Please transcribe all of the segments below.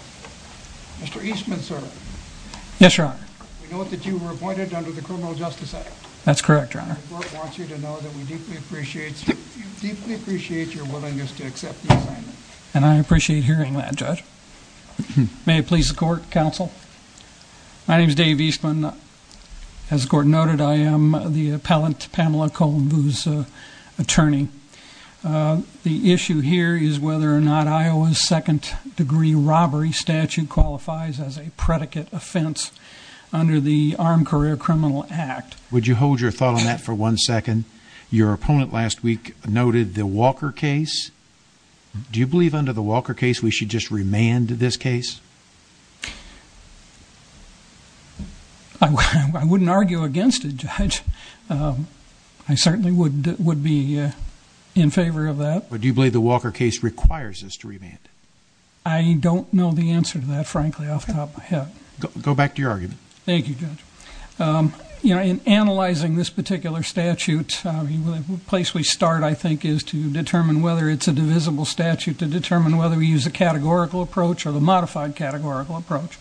Mr. Eastman, sir. Yes, Your Honor. We know that you were appointed under the Criminal Justice Act. That's correct, Your Honor. The court wants you to know that we deeply appreciate your willingness to accept the assignment. And I appreciate hearing that, Judge. May it please the court, counsel? My name is Dave Eastman. As the court noted, I am the appellant Pamela Golinveaux's attorney. The issue here is whether or not Iowa's second-degree robbery statute qualifies as a predicate offense under the Armed Career Criminal Act. Would you hold your thought on that for one second? Your opponent last week noted the Walker case. Do you believe under the Walker case we should just remand this case? I wouldn't argue against it, Judge. I certainly would be in favor of that. But do you believe the Walker case requires us to remand? I don't know the answer to that, frankly, off the top of my head. Go back to your argument. Thank you, Judge. You know, in analyzing this particular statute, the place we start, I think, is to determine whether it's a divisible statute, to determine whether we use a categorical approach or the modified categorical approach.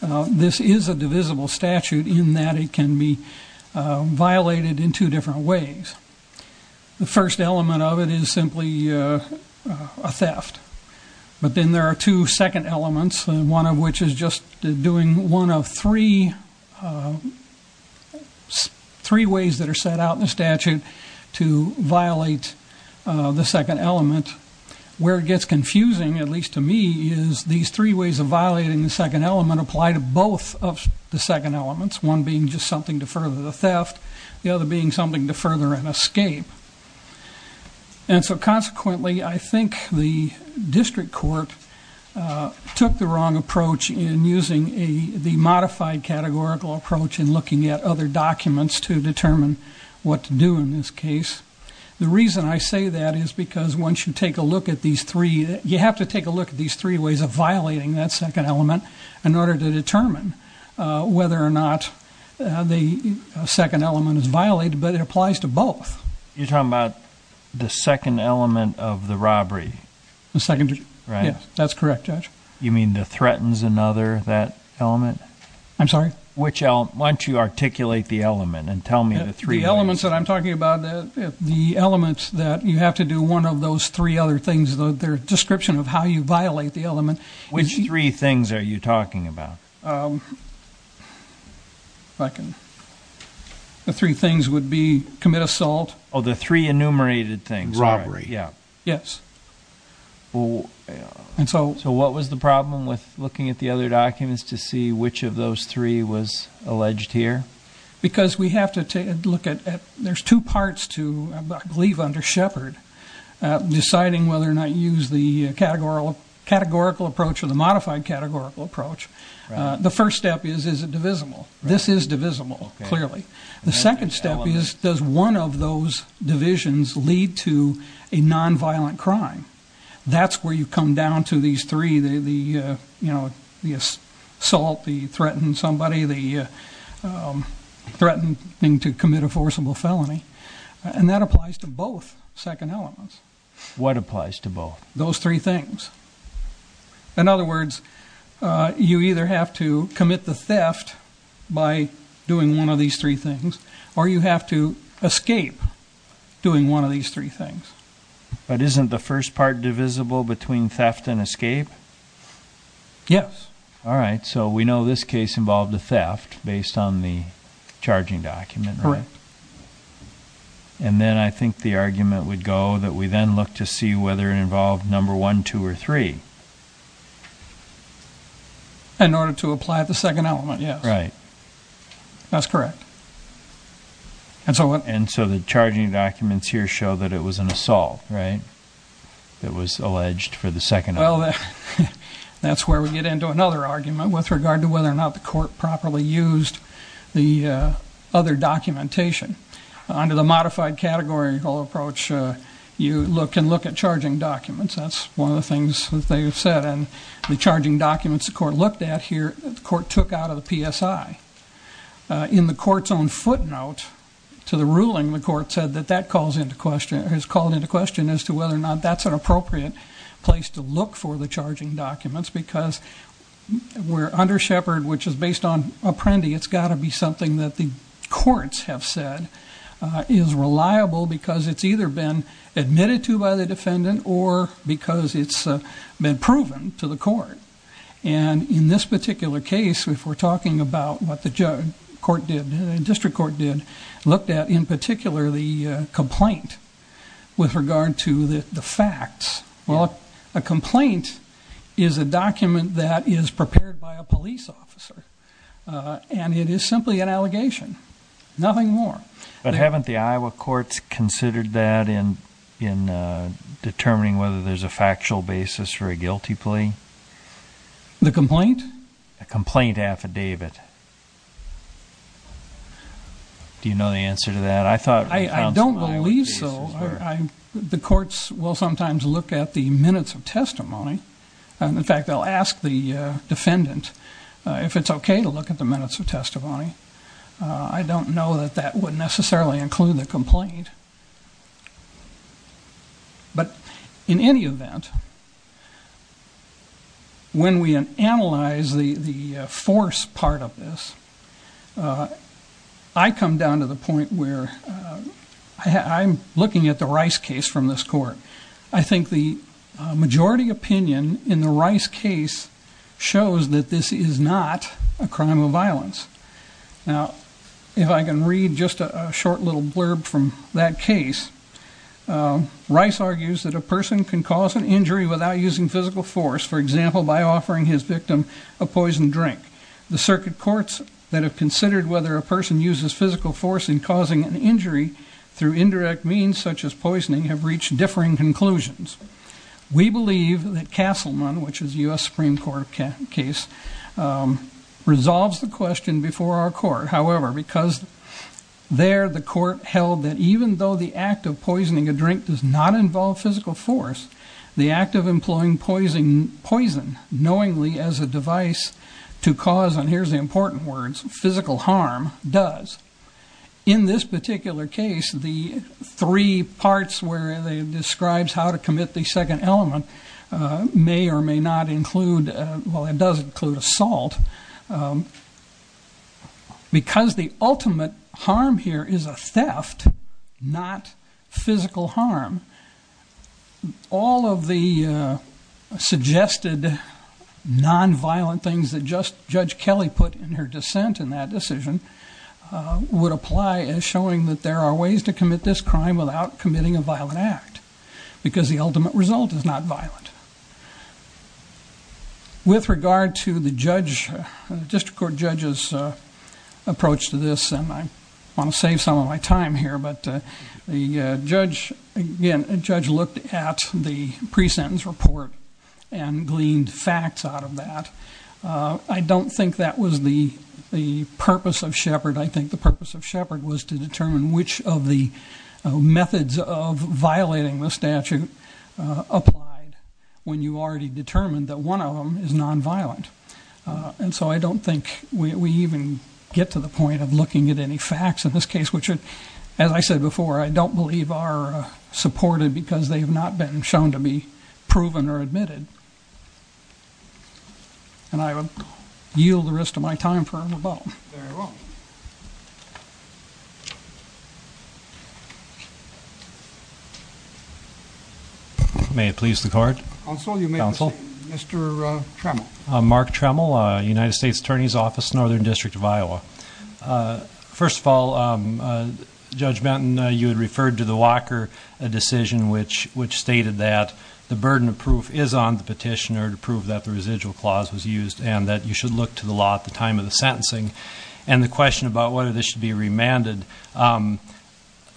This is a divisible statute in that it can be simply a theft. But then there are two second elements, one of which is just doing one of three ways that are set out in the statute to violate the second element. Where it gets confusing, at least to me, is these three ways of violating the second element apply to both of the second elements, one being just something to further the theft, the other being to further an escape. And so consequently, I think the district court took the wrong approach in using the modified categorical approach in looking at other documents to determine what to do in this case. The reason I say that is because once you take a look at these three, you have to take a look at these three ways of violating that second element in order to apply it to both. You're talking about the second element of the robbery. That's correct, Judge. You mean the threatens another, that element? I'm sorry? Why don't you articulate the element and tell me the three elements. The elements that I'm talking about, the elements that you have to do one of those three other things, their description of how you violate the element. Which three things are you talking about? Um, if I can, the three things would be commit assault. Oh, the three enumerated things. Robbery. Yeah. Yes. And so what was the problem with looking at the other documents to see which of those three was alleged here? Because we have to take a look at, there's two parts to, I believe under Shepard, deciding whether or not you use the categorical approach or the modified categorical approach. The first step is, is it divisible? This is divisible. Clearly. The second step is, does one of those divisions lead to a nonviolent crime? That's where you come down to these three, you know, the assault, the threatened somebody, the threatening to commit a forcible felony. And that applies to both second elements. What applies to both? Those three things. In other words, you either have to commit the theft by doing one of these three things, or you have to escape doing one of these three things. But isn't the first part divisible between theft and escape? Yes. All right. So we know this case involved a theft based on the charging document. And then I think the argument would go that we then look to see whether it involved number one, two, or three. In order to apply the second element, yes. Right. That's correct. And so what? And so the charging documents here show that it was an assault, right? That was alleged for the second element. Well, that's where we get into another argument with regard to whether or not the court properly used the other documentation. Under the modified categorical approach, you look and look at the charging documents the court looked at here, the court took out of the PSI. In the court's own footnote to the ruling, the court said that that has called into question as to whether or not that's an appropriate place to look for the charging documents. Because under Shepard, which is based on Apprendi, it's got to be something that the courts have said is reliable because it's either been admitted to by the defendant or because it's been proven to the court. And in this particular case, if we're talking about what the district court did, looked at, in particular, the complaint with regard to the facts. Well, a complaint is a document that is prepared by a police officer. And it is simply an allegation, nothing more. But haven't the Iowa courts considered that in determining whether there's a factual basis for a guilty plea? The complaint? A complaint affidavit. Do you know the answer to that? I don't believe so. The courts will sometimes look at the minutes of testimony. In fact, they'll ask the defendant if it's okay to look at the minutes of testimony. I don't know that that would necessarily include the complaint. But in any event, when we analyze the force part of this, I come down to the point where I'm looking at the Rice case from this court. I think the majority opinion in the Rice case shows that this is not a crime of violence. Now, if I can read just a short little blurb from that case, Rice argues that a person can cause an injury without using physical force, for example, by offering his victim a poisoned drink. The circuit courts that have considered whether a person uses physical force in causing an injury through indirect means such as poisoning have reached differing conclusions. We believe that Castleman, which is a US Supreme Court case, resolves the question before our court. However, because there the court held that even though the act of poisoning a drink does not involve physical force, the act of employing poison knowingly as a device to cause, and here's the important words, physical harm does. In this particular case, the three parts where it describes how to commit the second element may or may not include, well, it does include assault. Because the ultimate harm here is a theft, not physical harm, all of the suggested non-violent things that Judge Kelly put in her dissent in that decision would apply as showing that there are ways to commit this crime without committing a violent act. Because the ultimate result is not violent. With regard to the judge, the district court judge's approach to this, and I want to save some of my time here, but the judge, again, judge looked at the pre-sentence report and gleaned facts out of that. I don't think that was the purpose of Shepard. I think the purpose of Shepard was to determine which of the methods of violating the statute applied when you already determined that one of them is non-violent. And so I don't think we even get to the point of looking at any facts in this case, which, as I said before, I don't believe are supported because they have not been shown to be proven or admitted. And I will yield the rest of my time for a rebuttal. Very well. May it please the court. Counsel, you may proceed. Mr. Tremel. Mark Tremel, United States Attorney's Office, Northern District of Iowa. First of all, Judge Benton, you had referred to the Walker decision which stated that the burden of proof is on the petitioner to prove that the residual clause was used and that you should look to the law at the time of the sentencing. And the question about whether this should be remanded.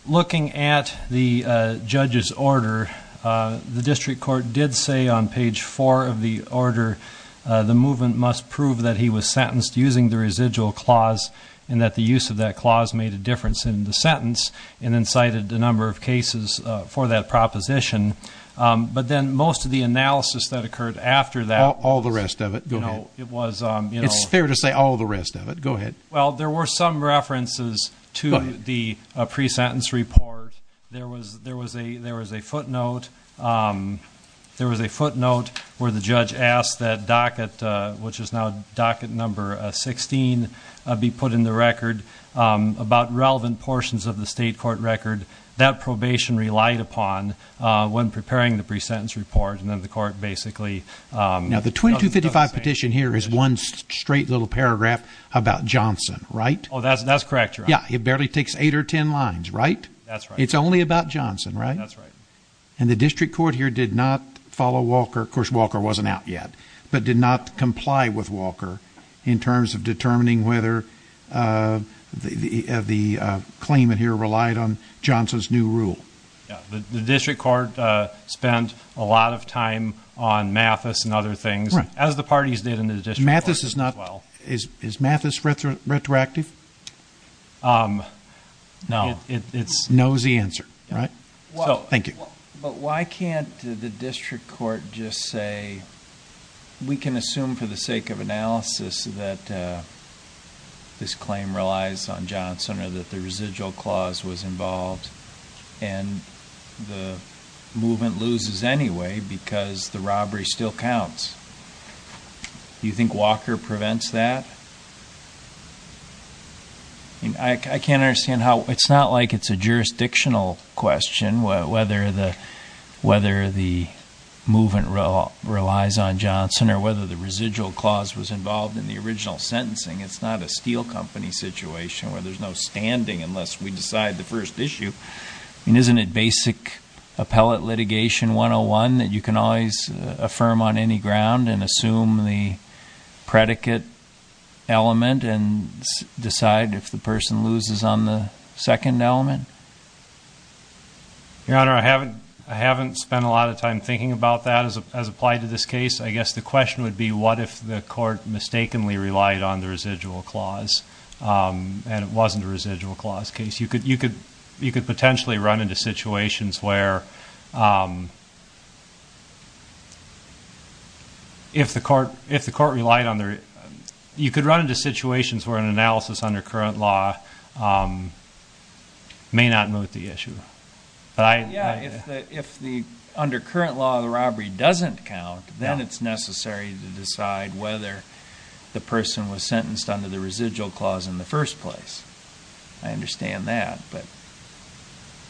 Looking at the judge's order, the district court did say on page four of the order, the movement must prove that he was sentenced using the residual clause and that the use of that clause made a difference in the sentence and then cited a number of cases for that proposition. But then most of the analysis that occurred after that. All the rest of it. It's fair to say all the rest of it. Go ahead. Well, there were some references to the pre-sentence report. There was a footnote where the judge asked that docket, which is now docket number 16, be put in the record about relevant portions of the state court record that probation relied upon when preparing the pre-sentence report. Basically, the 2255 petition here is one straight little paragraph about Johnson, right? Oh, that's correct. Yeah. It barely takes eight or 10 lines, right? That's right. It's only about Johnson, right? That's right. And the district court here did not follow Walker. Of course, Walker wasn't out yet, but did not comply with Walker in terms of determining whether the claimant here relied on Johnson's new rule. Yeah. The district court spent a lot of time on Mathis and other things. Right. As the parties did in the district court as well. Mathis is not. Is Mathis retroactive? No. It's nosy answer, right? Thank you. But why can't the district court just say we can assume for the sake of analysis that this claim relies on Johnson or that the residual clause was involved and the movement loses anyway because the robbery still counts? Do you think Walker prevents that? I can't understand how. It's not like it's a jurisdictional question whether the movement relies on Johnson or whether the residual clause was involved in the original sentencing. It's not a steel company situation where there's no standing unless we decide the first issue. Isn't it basic appellate litigation 101 that you can always affirm on any ground and assume the predicate element and decide if the person loses on the second element? Your Honor, I haven't spent a lot of time thinking about that as applied to this case. I guess the question would be what if the court mistakenly relied on the residual clause and it wasn't a residual clause case. You could potentially run into situations where could run into situations where an analysis under current law may not move the issue. If under current law the robbery doesn't count, then it's necessary to decide whether the person was sentenced under the residual clause in the first place. I understand that, but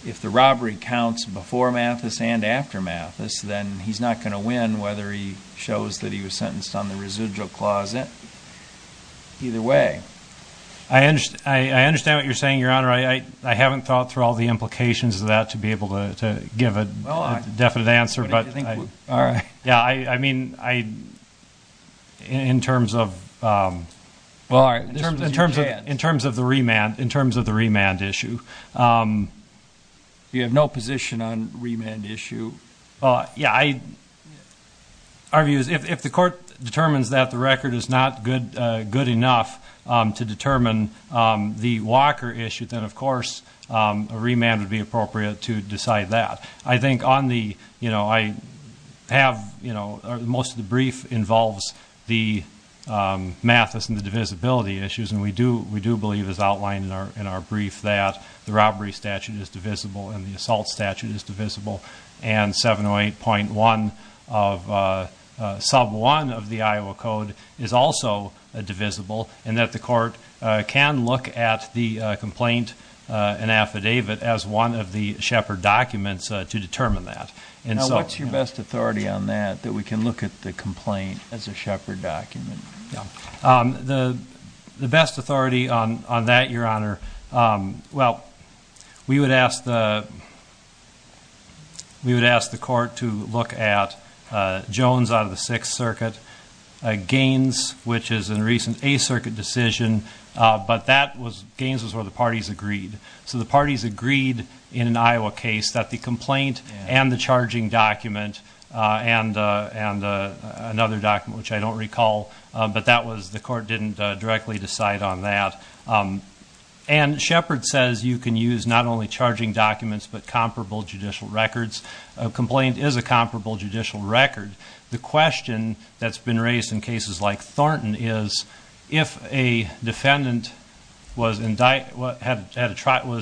if the robbery counts before Mathis and after Mathis, then he's not going to win whether he shows that he was sentenced on the residual clause either way. I understand what you're saying, Your Honor. I haven't thought through all the implications of that to be able to give a definite answer. All right. Yeah, I mean in terms of the remand issue. You have no position on remand issue? Yeah, our view is if the court determines that the record is not good enough to determine the Walker issue, then of course a remand would be appropriate to decide that. I think most of the brief involves the Mathis and the divisibility issues and we do believe as outlined in our brief that the robbery statute is divisible and the assault statute is divisible and 708.1 of sub 1 of the Iowa Code is also divisible and that the court can look at the to determine that. And so what's your best authority on that that we can look at the complaint as a shepherd document? The best authority on that, Your Honor. Well, we would ask the court to look at Jones out of the Sixth Circuit, Gaines, which is in recent a circuit decision, but that was Gaines was where the parties agreed. So the parties agreed in an Iowa case that the complaint and the charging document and another document, which I don't recall, but that was the court didn't directly decide on that. And Shepherd says you can use not only charging documents, but comparable judicial records. A complaint is a comparable judicial record. The question that's been raised in cases like Thornton is if a defendant was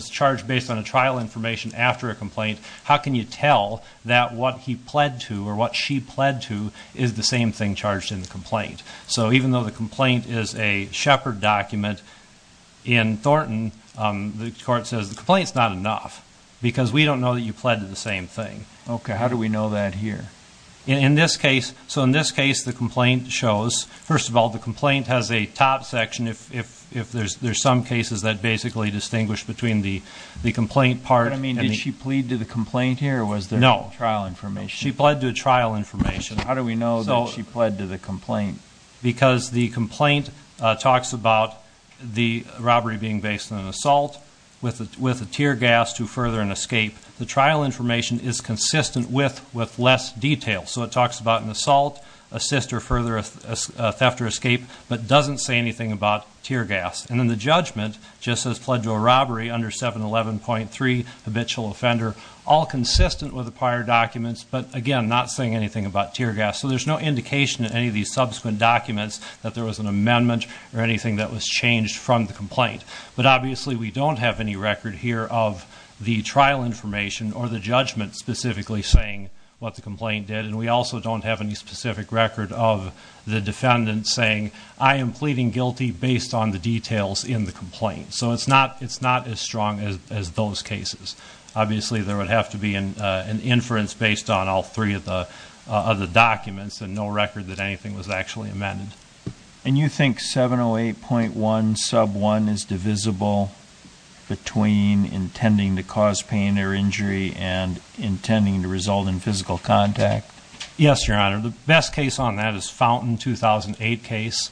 charged based on a trial information after a complaint, how can you tell that what he pled to or what she pled to is the same thing charged in the complaint? So even though the complaint is a shepherd document in Thornton, the court says the complaint is not enough because we don't know that you pled to the same thing. Okay, how do we know that here? In this case, so in this case, the complaint shows, first of all, the complaint has a top section if, if, if there's, there's some cases that basically distinguish between the, the complaint part. I mean, did she plead to the complaint here? Was there no trial information? She pled to a trial information. How do we know that she pled to the complaint? Because the complaint talks about the robbery being based on an assault with a, with a tear gas to further an escape. The trial information is consistent with, with less detail. So it talks about an assault, assist or further a theft or escape, but doesn't say anything about tear gas. And then the judgment just says pled to a robbery under 711.3, habitual offender, all consistent with the prior documents, but again, not saying anything about tear gas. So there's no indication in any of these subsequent documents that there was an amendment or anything that was changed from the complaint. But obviously we don't have any record here of the trial information or the judgment specifically saying what the complaint did. And we also don't have any specific record of the defendant saying, I am pleading guilty based on the details in the complaint. So it's not, it's not as strong as, as those cases. Obviously there would have to be an, an inference based on all three of the, of the documents and no record that anything was actually amended. And you think 708.1 sub one is divisible between intending to cause pain or injury and intending to result in physical contact? Yes, Your Honor. The best case on that is Fountain 2008 case.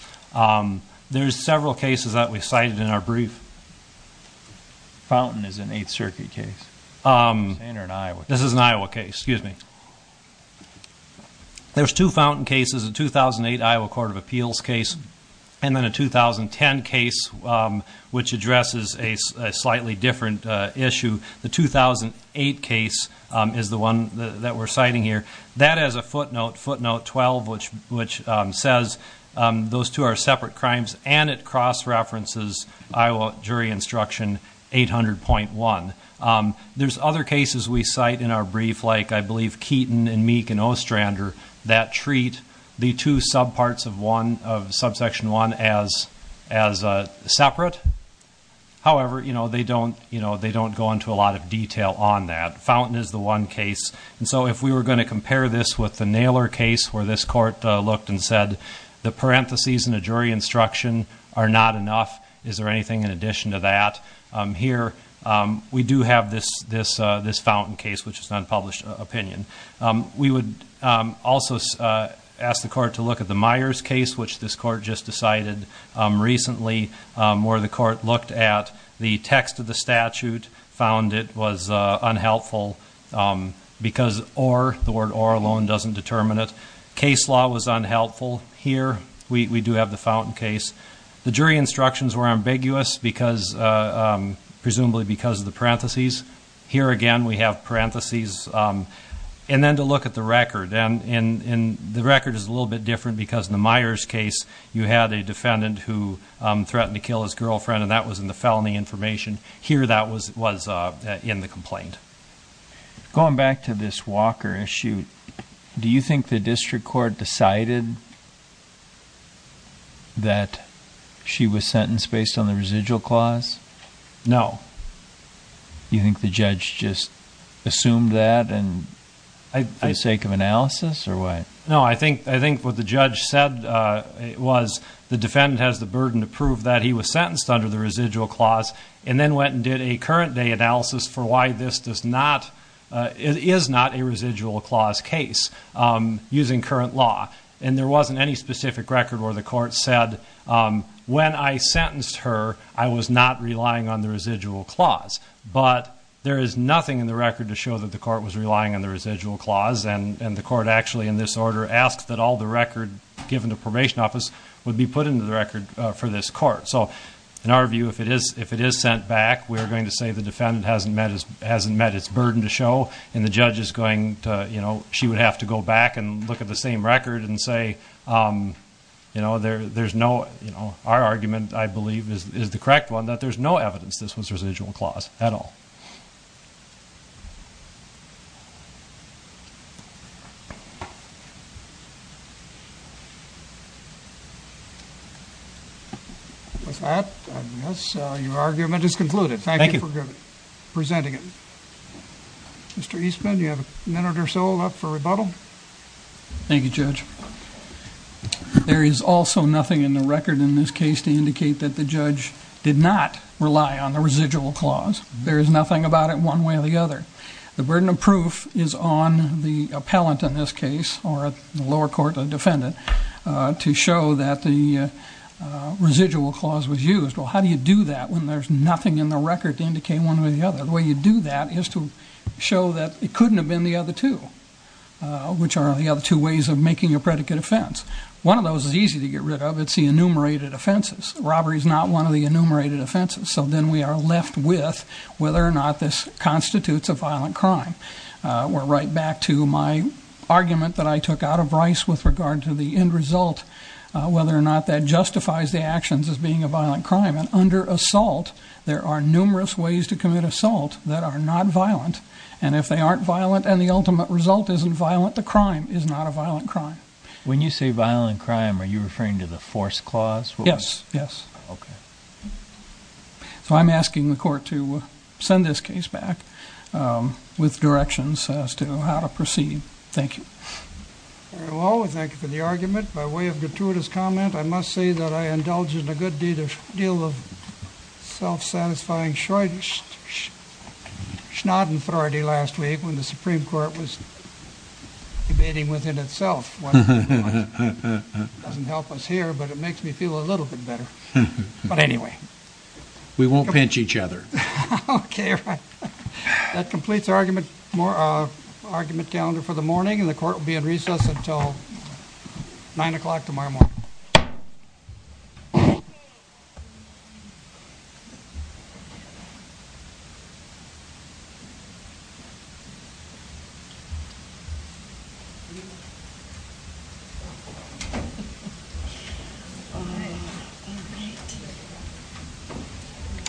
There's several cases that we cited in our brief. Fountain is an eighth circuit case. This is an Iowa case, excuse me. There's two Fountain cases, a 2008 Iowa court of appeals case, and then a 2010 case, which addresses a slightly different issue. The 2008 case is the one that we're citing here. That has a footnote, footnote 12, which, which says those two are separate crimes. And it cross-references Iowa jury instruction 800.1. There's other cases we cite in our brief, like I believe Keaton and Meek and Ostrander that treat the two sub parts of one of subsection one as, as separate. However, you know, they don't, you know, they don't go into a lot of detail on that. Fountain is the one case. And so if we were going to compare this with the Naylor case, where this court looked and said, the parentheses in a jury instruction are not enough. Is there anything in addition to that? Here, we do have this, this, this Fountain case, which is an unpublished opinion. We would also ask the court to look at the Myers case, which this court just decided recently. Where the court looked at the text of the statute, found it was unhelpful because or, the word or alone doesn't determine it. Case law was unhelpful. Here, we, we do have the Fountain case. The jury instructions were ambiguous because, presumably because of the parentheses. Here again, we have parentheses. And then to look at the record, and, and, and the record is a little bit different because in the Myers case, you had a defendant who threatened to kill his girlfriend. And that was in the felony information here. That was, was in the complaint. Going back to this Walker issue, do you think the district court decided that she was sentenced based on the residual clause? No. Do you think the judge just assumed that and for the sake of analysis or what? No, I think, I think what the judge said, was the defendant has the burden to prove that he was sentenced under the residual clause. And then went and did a current day analysis for why this does not, it is not a residual clause case using current law. And there wasn't any specific record where the court said, when I sentenced her, I was not relying on the residual clause. But there is nothing in the record to show that the court was relying on the residual clause. And, and the court actually in this order asked that all the record given to probation office would be put into the record for this court. So in our view, if it is, if it is sent back, we are going to say the defendant hasn't met his, hasn't met his burden to show. And the judge is going to, you know, she would have to go back and look at the same record and say, you know, there, there's no, you know, our argument, I believe is the correct one that there's no evidence this was residual clause at all. So your argument is concluded. Thank you for presenting it. Mr. Eastman, you have a minute or so left for rebuttal. Thank you, Judge. There is also nothing in the record in this case to indicate that the judge did not rely on the residual clause. There is nothing about it one way or the other. The burden of proof is on the appellant in this case or the lower court defendant to show that the residual clause was used. Well, how do you do that when there's nothing in the record to indicate one way or the other? The way you do that is to show that it couldn't have been the other two, which are the other two ways of making a predicate offense. One of those is easy to get rid of. It's the enumerated offenses. Robbery is not one of the enumerated offenses. So then we are left with whether or not this constitutes a violent crime. We're right back to my argument that I took out of Bryce with regard to the end result, whether or not that justifies the actions as being a violent crime. And under assault, there are numerous ways to commit assault that are not violent. And if they aren't violent and the ultimate result isn't violent, the crime is not a violent crime. When you say violent crime, are you referring to the force clause? Yes. Yes. Okay. So I'm asking the court to send this case back with directions as to how to proceed. Thank you. Very well. Thank you for the argument. By way of gratuitous comment, I must say that I indulged in a good deal of self-satisfying schnaudenfreude last week when the Supreme Court was debating within itself. Doesn't help us here, but it makes me feel a little bit better. But anyway. We won't pinch each other. Okay, right. That completes our argument calendar for the morning. And the court will be in recess until 9 o'clock tomorrow morning. Thank you.